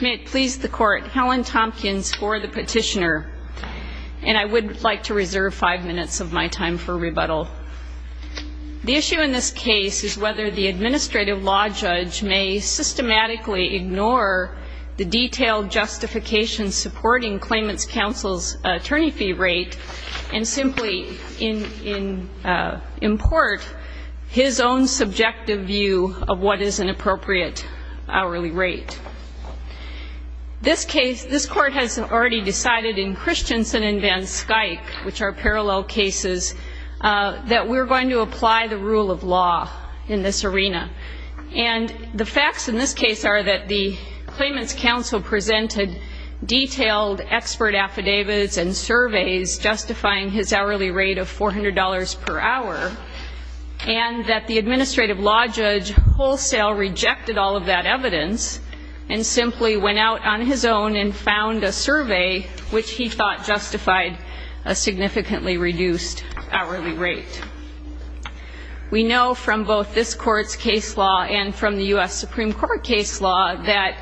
May it please the Court, Helen Tompkins for the petitioner, and I would like to reserve five minutes of my time for rebuttal. The issue in this case is whether the administrative law judge may systematically ignore the detailed justification supporting claimant's counsel's attorney fee rate and simply import his own subjective view of what is an appropriate hourly rate. This case, this Court has already decided in Christensen and Van Skyke, which are parallel cases, that we're going to apply the rule of law in this arena. And the facts in this case are that the claimant's counsel presented detailed expert affidavits and surveys justifying his hourly rate of $400 per hour, and that the administrative law judge wholesale rejected all of that evidence and simply went out on his own and found a survey which he thought justified a significantly reduced hourly rate. We know from both this Court's case law and from the U.S. Supreme Court case law that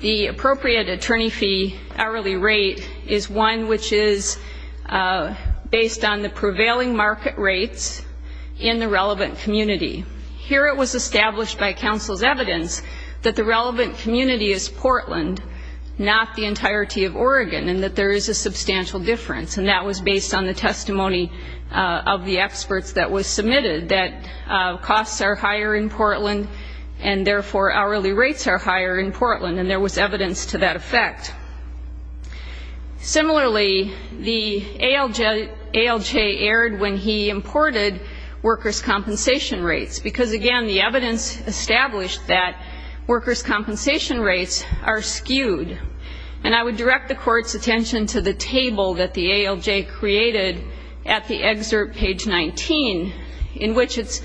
the appropriate attorney fee hourly rate is one which is based on the prevailing market rates in the relevant community. Here it was established by counsel's evidence that the relevant community is Portland, not the entirety of Oregon, and that there is a substantial difference, and that was based on the testimony of the experts that was submitted that costs are higher in Portland and therefore hourly rates are higher in Portland, and there was evidence to that effect. Similarly, the ALJ aired when he imported workers' compensation rates, because, again, the evidence established that workers' compensation rates are skewed. And I would direct the Court's attention to the table that the ALJ created at the excerpt, page 19, in which it's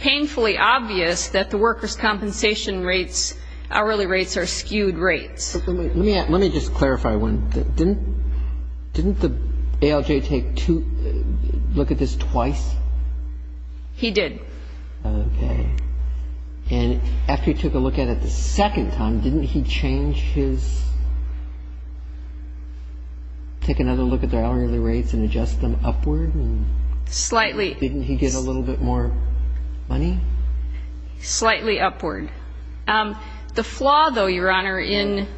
painfully obvious that the workers' compensation rates, hourly rates, are skewed rates. Let me just clarify one thing. Didn't the ALJ take two, look at this twice? He did. Okay. And after he took a look at it the second time, didn't he change his, take another look at their hourly rates and adjust them upward? Slightly. Didn't he get a little bit more money? Slightly upward. The flaw, though, Your Honor, in the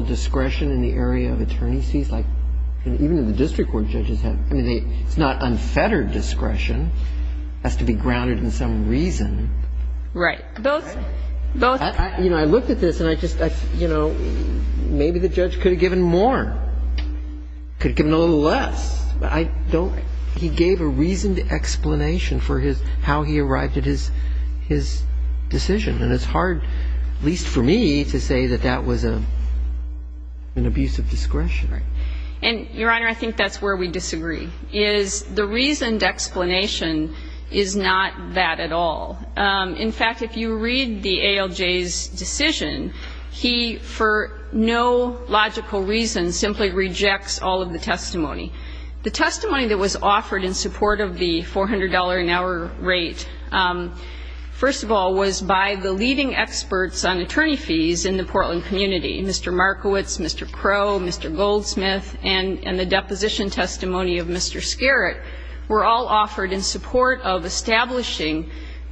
ALJ, which is not unfettered discretion, has to be grounded in some reason. Right. Both. You know, I looked at this, and I just, you know, maybe the judge could have given more. Could have given a little less. He gave a reasoned explanation for his, how he arrived at his decision. And it's hard, at least for me, to say that that was an abuse of discretion. Right. And, Your Honor, I think that's where we disagree, is the reasoned explanation is not that at all. In fact, if you read the ALJ's decision, he, for no logical reason, simply rejects all of the testimony. The testimony that was offered in support of the $400 an hour rate, first of all, was by the leading experts on attorney fees in the Portland community. Mr. Markowitz, Mr. Crow, Mr. Goldsmith, and the deposition testimony of Mr. Skerritt were all offered in support of establishing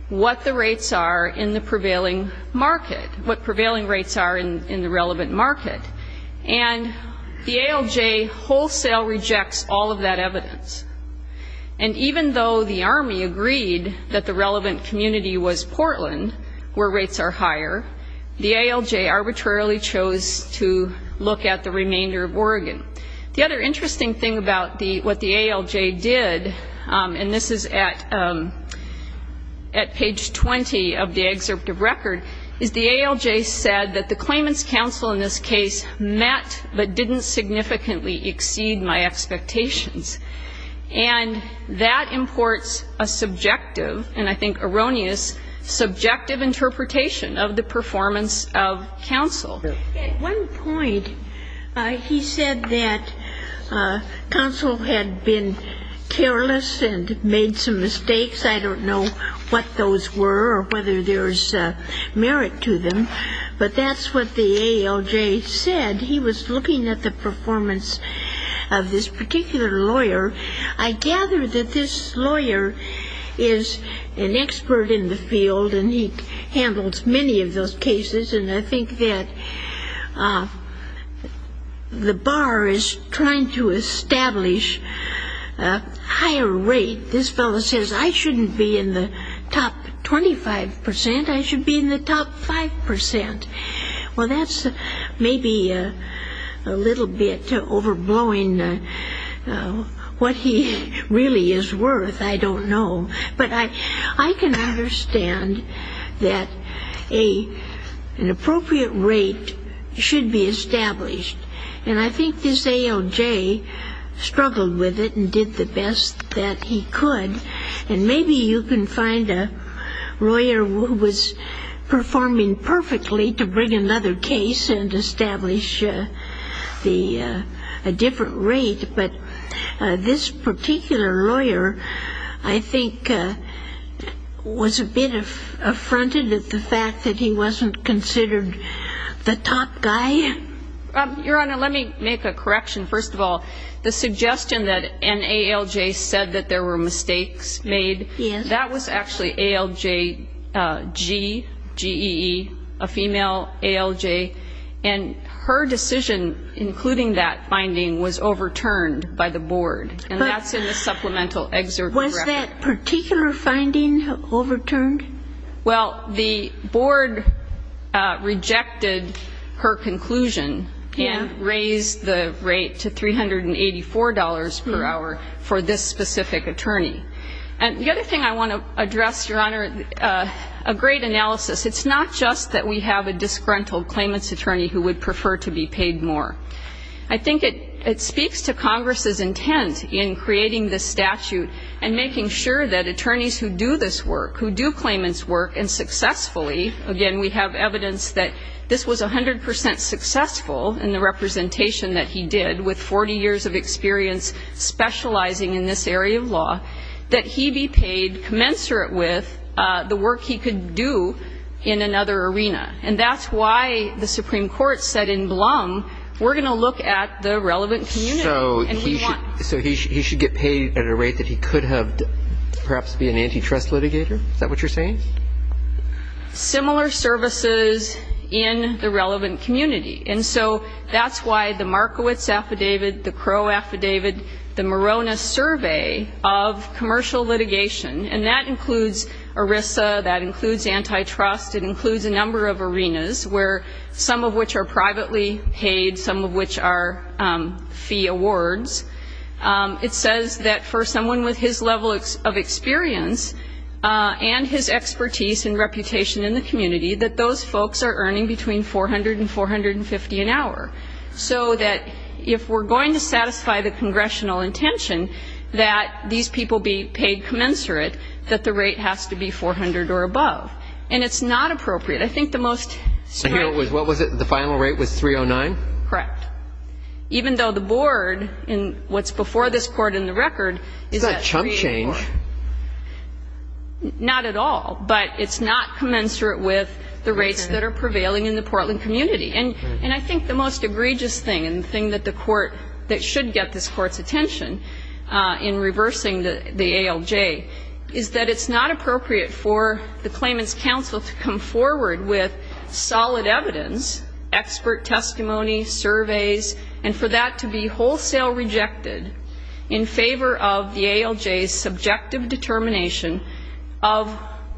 what the rates are in the prevailing market, what prevailing rates are in the relevant market. And the ALJ wholesale rejects all of that evidence. And even though the Army agreed that the relevant community was Portland, where rates are higher, the ALJ arbitrarily chose to look at the remainder of Oregon. The other interesting thing about what the ALJ did, and this is at page 20 of the record, is the ALJ said that the claimant's counsel in this case met but didn't significantly exceed my expectations. And that imports a subjective, and I think erroneous, subjective interpretation of the performance of counsel. At one point, he said that counsel had been careless and made some mistakes. I don't know what those were or whether there's merit to them. But that's what the ALJ said. He was looking at the performance of this particular lawyer. I gather that this lawyer is an expert in the field, and he handles many of those cases, and I think that the bar is trying to establish a higher rate. This fellow says, I shouldn't be in the top 25 percent. I should be in the top 5 percent. Well, that's maybe a little bit overblowing what he really is worth. I don't know. But I can understand that an appropriate rate should be established. And I think this ALJ struggled with it and did the best that he could. And maybe you can find a lawyer who was performing perfectly to bring another case and establish a different rate. But this particular lawyer, I think, was a bit affronted at the fact that he wasn't considered the top guy. Your Honor, let me make a correction. First of all, the suggestion that an ALJ said that there were mistakes made, that was actually ALJ G, G-E-E, a female ALJ. And her decision, including that finding, was overturned by the board. And that's in the supplemental excerpt. Was that particular finding overturned? Well, the board rejected her conclusion and raised the rate to $384 per hour for this specific attorney. And the other thing I want to address, Your Honor, a great analysis. It's not just that we have a disgruntled claimant's attorney who would prefer to be paid more. I think it speaks to Congress's intent in creating this statute and making sure that attorneys who do this work, who do claimant's work, and successfully, again, we have evidence that this was 100% successful in the representation that he did, with 40 years of experience specializing in this area of law, that he be paid commensurate with the work he could do in another arena. And that's why the Supreme Court said in Blum, we're going to look at the relevant community. So he should get paid at a rate that he could have perhaps be an antitrust litigator? Is that what you're saying? Similar services in the relevant community. And so that's why the Markowitz affidavit, the Crow affidavit, the Morona survey of commercial litigation, and that includes ERISA, that includes antitrust, it includes a number of arenas where some of which are privately paid, some of which are fee awards. It says that for someone with his level of experience and his expertise and reputation in the community, that those folks are earning between $400 and $450 an hour. So that if we're going to satisfy the congressional intention that these people be paid commensurate, that the rate has to be $400 or above. And it's not appropriate. I think the most striking thing. What was it? The final rate was $309? Correct. Even though the board in what's before this court in the record is at $300. Is that chump change? Not at all. But it's not commensurate with the rates that are prevailing in the Portland community. And I think the most egregious thing, and the thing that should get this Court's attention in reversing the ALJ, is that it's not appropriate for the claimant's counsel to come forward with solid evidence, expert testimony, surveys, and for that to be wholesale rejected in favor of the ALJ's subjective determination of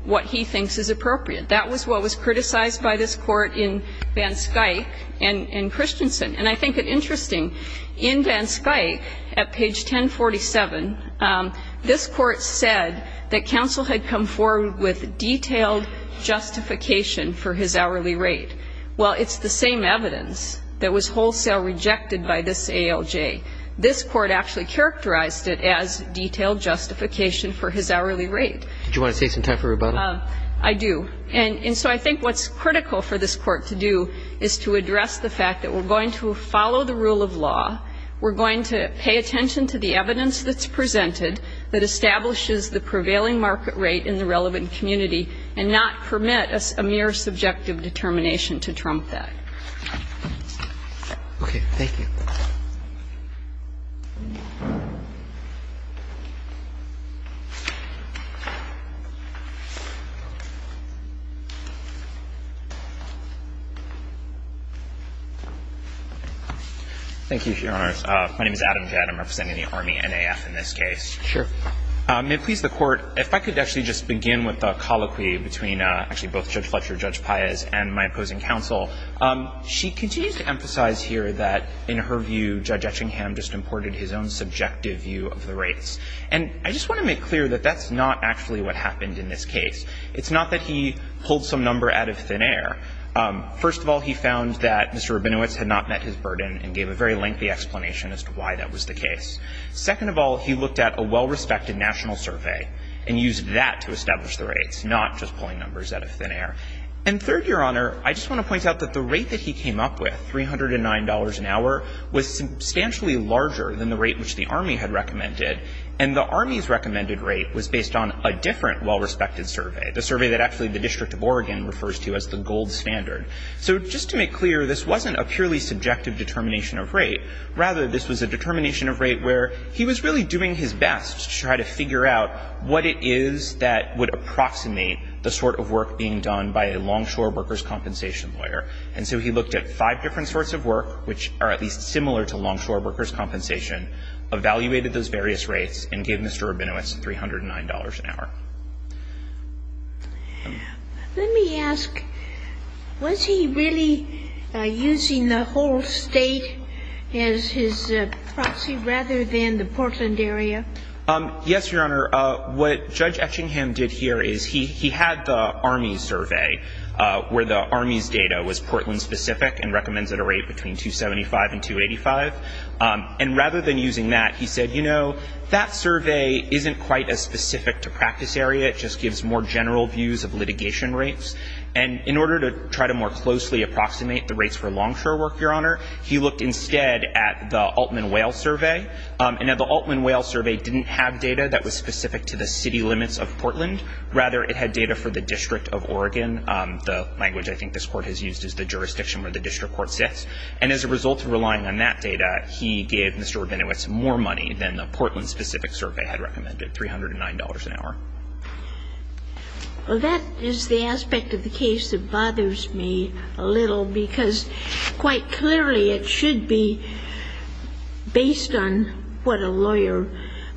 what he thinks is appropriate. That was what was criticized by this Court in Van Skuyk and Christensen. And I think it's interesting, in Van Skuyk, at page 1047, this Court said that counsel had come forward with detailed justification for his hourly rate. Well, it's the same evidence that was wholesale rejected by this ALJ. This Court actually characterized it as detailed justification for his hourly rate. Did you want to take some time for rebuttal? I do. And so I think what's critical for this Court to do is to address the fact that we're going to follow the rule of law. We're going to pay attention to the evidence that's presented that establishes the prevailing market rate in the relevant community and not permit a mere subjective determination to trump that. Okay. Thank you. Thank you, Your Honor. My name is Adam Jett. I'm representing the Army NAF in this case. Sure. May it please the Court, if I could actually just begin with the colloquy between actually both Judge Fletcher, Judge Paez, and my opposing counsel. She continues to emphasize here that, in her view, Judge Etchingham just imported his own subjective view of the rates. And I just want to make clear that that's not actually what happened in this case. It's not that he pulled some number out of thin air. First of all, he found that Mr. Rabinowitz had not met his burden and gave a very lengthy explanation as to why that was the case. Second of all, he looked at a well-respected national survey and used that to establish the rates, not just pulling numbers out of thin air. And third, Your Honor, I just want to point out that the rate that he came up with, $309 an hour, was substantially larger than the rate which the Army had recommended. And the Army's recommended rate was based on a different well-respected survey, the survey that actually the District of Oregon refers to as the gold standard. So just to make clear, this wasn't a purely subjective determination of rate. Rather, this was a determination of rate where he was really doing his best to try to approximate the sort of work being done by a longshore workers' compensation lawyer. And so he looked at five different sorts of work which are at least similar to longshore workers' compensation, evaluated those various rates, and gave Mr. Rabinowitz $309 an hour. Let me ask, was he really using the whole State as his proxy rather than the Portland area? Yes, Your Honor. What Judge Etchingham did here is he had the Army's survey where the Army's data was Portland-specific and recommends at a rate between 275 and 285. And rather than using that, he said, you know, that survey isn't quite as specific to practice area. It just gives more general views of litigation rates. And in order to try to more closely approximate the rates for longshore work, Your Honor, he looked instead at the Altman Whale survey. And now the Altman Whale survey didn't have data that was specific to the city limits of Portland. Rather, it had data for the District of Oregon, the language I think this Court has used is the jurisdiction where the District Court sits. And as a result of relying on that data, he gave Mr. Rabinowitz more money than the Portland-specific survey had recommended, $309 an hour. Well, that is the aspect of the case that bothers me a little because quite clearly it should be based on what a lawyer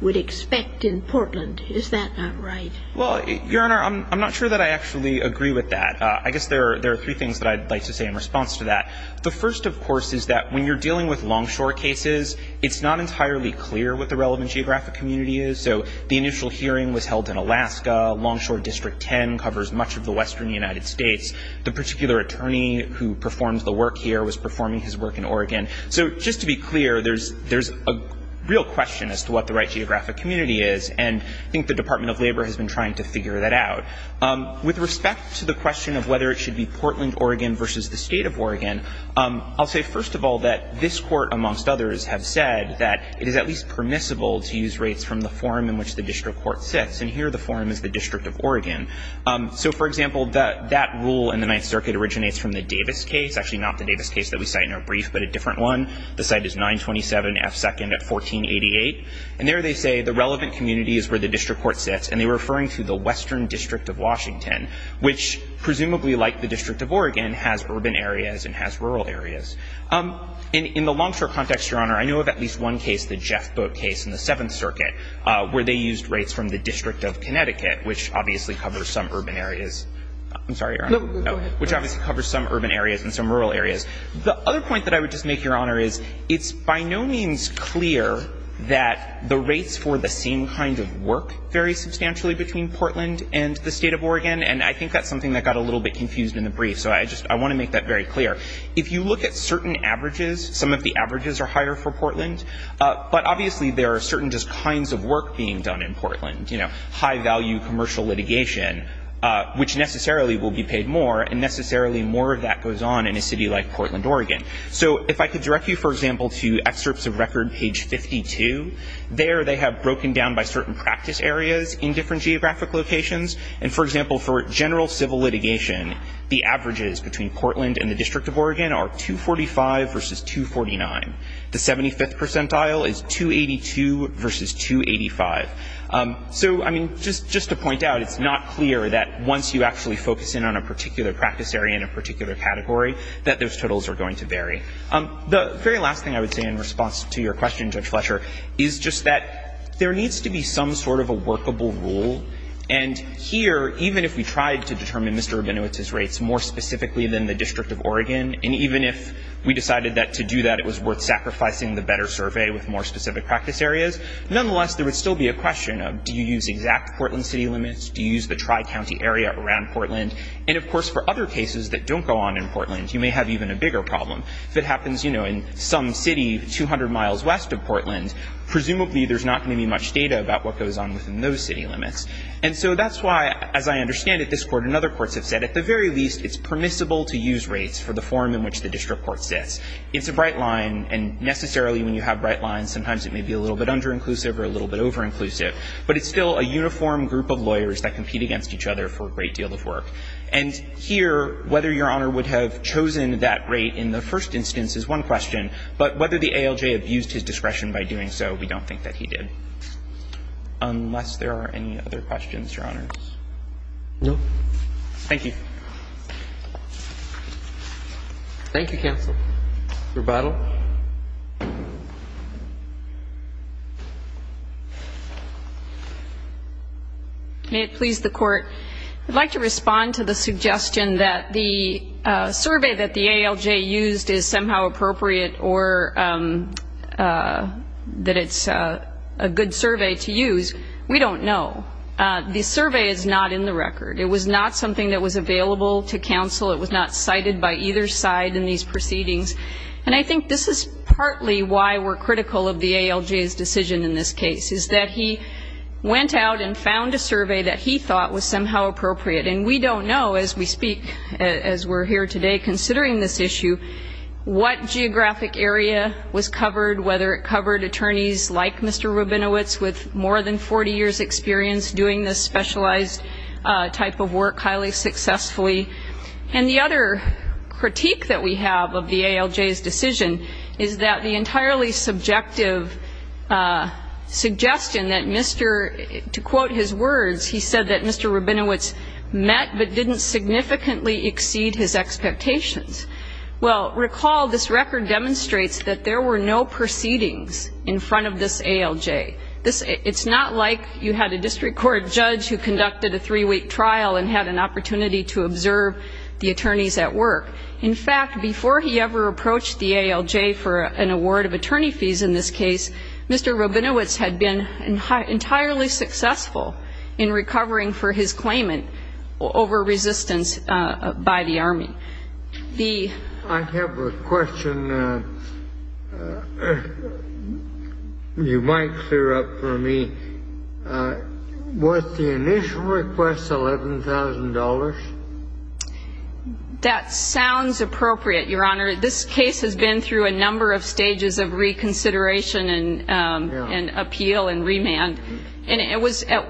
would expect in Portland. Is that not right? Well, Your Honor, I'm not sure that I actually agree with that. I guess there are three things that I'd like to say in response to that. The first, of course, is that when you're dealing with longshore cases, it's not entirely clear what the relevant geographic community is. So the initial hearing was held in Alaska. Longshore District 10 covers much of the western United States. The particular attorney who performs the work here was performing his work in Oregon. So just to be clear, there's a real question as to what the right geographic community is, and I think the Department of Labor has been trying to figure that out. With respect to the question of whether it should be Portland, Oregon versus the State of Oregon, I'll say first of all that this Court, amongst others, have said that it is at least permissible to use rates from the forum in which the District Court sits, and here the forum is the District of Oregon. So, for example, that rule in the Ninth Circuit originates from the Davis case, actually not the Davis case that we cite in our brief, but a different one. The site is 927F2nd at 1488. And there they say the relevant community is where the District Court sits, and they're referring to the Western District of Washington, which presumably, like the District of Oregon, has urban areas and has rural areas. In the longshore context, Your Honor, I know of at least one case, the Jeff Boat case in the Seventh Circuit, where they used rates from the District of Connecticut, which obviously covers some urban areas. I'm sorry, Your Honor. No, go ahead. Which obviously covers some urban areas and some rural areas. The other point that I would just make, Your Honor, is it's by no means clear that the rates for the same kind of work vary substantially between Portland and the State of Oregon, and I think that's something that got a little bit confused in the brief, so I just want to make that very clear. If you look at certain averages, some of the averages are higher for Portland, but obviously there are certain just kinds of work being done in Portland, you know, high-value commercial litigation, which necessarily will be paid more, and necessarily more of that goes on in a city like Portland, Oregon. So if I could direct you, for example, to excerpts of record page 52, there they have broken down by certain practice areas in different geographic locations, and, for example, for general civil litigation, the averages between Portland and the District of Oregon are 245 versus 249. The 75th percentile is 282 versus 285. So, I mean, just to point out, it's not clear that once you actually focus in on a particular practice area in a particular category that those totals are going to vary. The very last thing I would say in response to your question, Judge Fletcher, is just that there needs to be some sort of a workable rule, and here, even if we tried to determine Mr. Rabinowitz's rates more specifically than the District of Oregon, and even if we decided that to do that it was worth sacrificing the better survey with more specific practice areas, nonetheless, there would still be a question of do you use exact Portland city limits? Do you use the tri-county area around Portland? And, of course, for other cases that don't go on in Portland, you may have even a bigger problem. If it happens, you know, in some city 200 miles west of Portland, presumably there's not going to be much data about what goes on within those city limits. And so that's why, as I understand it, this Court and other courts have said, at the very least, it's permissible to use rates for the form in which the district court sits. It's a bright line, and necessarily when you have bright lines, sometimes it may be a little bit under-inclusive or a little bit over-inclusive. But it's still a uniform group of lawyers that compete against each other for a great deal of work. And here, whether Your Honor would have chosen that rate in the first instance is one question, but whether the ALJ abused his discretion by doing so, we don't think that he did, unless there are any other questions, Your Honor. No. Thank you. Thank you, counsel. Rebuttal. May it please the Court, I'd like to respond to the suggestion that the survey that the ALJ used is somehow appropriate or that it's a good survey to use. We don't know. The survey is not in the record. It was not something that was available to counsel. It was not cited by either side in these proceedings. And I think this is partly why we're critical of the ALJ's decision in this case, is that he went out and found a survey that he thought was somehow appropriate. And we don't know, as we speak, as we're here today, considering this issue what geographic area was covered, whether it covered attorneys like Mr. Rabinowitz with more than 40 years' experience doing this specialized type of work highly successfully. And the other critique that we have of the ALJ's decision is that the entirely subjective suggestion that Mr. to quote his words, he said that Mr. Rabinowitz met but didn't significantly exceed his expectations. Well, recall this record demonstrates that there were no proceedings in front of this ALJ. It's not like you had a district court judge who conducted a three-week trial and had an opportunity to observe the attorneys at work. In fact, before he ever approached the ALJ for an award of attorney fees in this case, Mr. Rabinowitz had been entirely successful in recovering for his claimant over resistance by the Army. I have a question you might clear up for me. Was the initial request $11,000? That sounds appropriate, Your Honor. This case has been through a number of stages of reconsideration and appeal and remand. What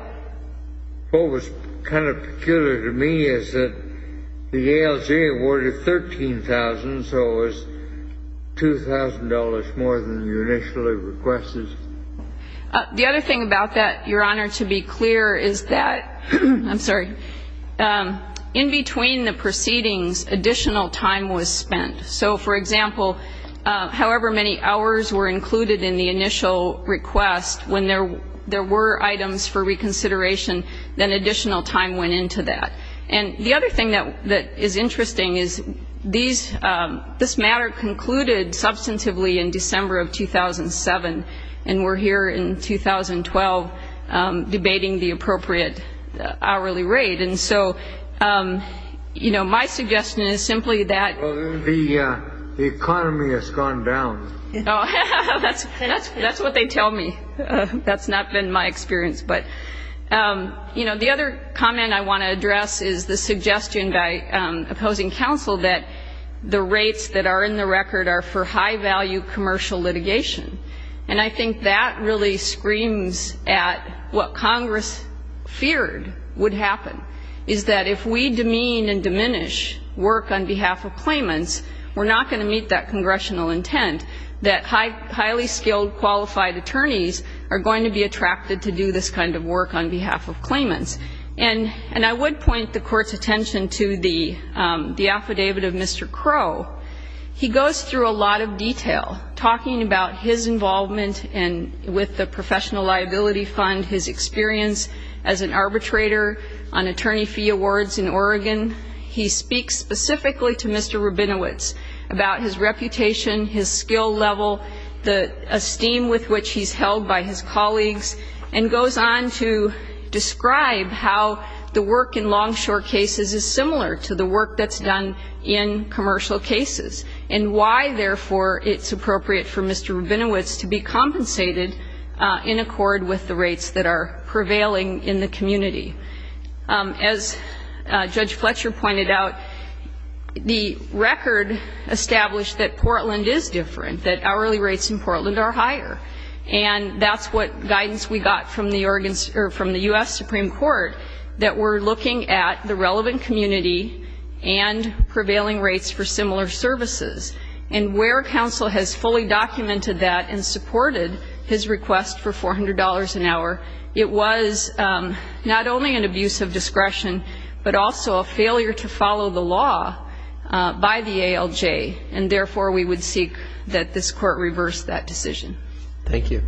was kind of peculiar to me is that the ALJ awarded $13,000, so it was $2,000 more than you initially requested. The other thing about that, Your Honor, to be clear is that, I'm sorry, in between the proceedings additional time was spent. So, for example, however many hours were included in the initial request, when there were items for reconsideration, then additional time went into that. And the other thing that is interesting is this matter concluded substantively in December of 2007. And we're here in 2012 debating the appropriate hourly rate. And so, you know, my suggestion is simply that the economy has gone down. That's what they tell me. That's not been my experience. But, you know, the other comment I want to address is the suggestion by opposing counsel that the rates that are in the record are for high-value commercial litigation. And I think that really screams at what Congress feared would happen, is that if we demean and diminish work on behalf of claimants, we're not going to meet that congressional intent that highly skilled, qualified attorneys are going to be attracted to do this kind of work on behalf of claimants. And I would point the Court's attention to the affidavit of Mr. Crow. He goes through a lot of detail talking about his involvement with the Professional Liability Fund, his experience as an arbitrator on attorney fee awards in Oregon. He speaks specifically to Mr. Rabinowitz about his reputation, his skill level, the esteem with which he's held by his colleagues, and goes on to describe how the work in long short cases is similar to the work that's done in commercial cases and why, therefore, it's appropriate for Mr. Rabinowitz to be compensated in accord with the rates that are prevailing in the community. As Judge Fletcher pointed out, the record established that Portland is different, that hourly rates in Portland are higher. And that's what guidance we got from the Oregon or from the U.S. Supreme Court that we're looking at the relevant community and prevailing rates for similar services. And where counsel has fully documented that and supported his request for $400 an hour, it was not only an abuse of discretion, but also a failure to follow the law by the ALJ. And, therefore, we would seek that this court reverse that decision. Thank you.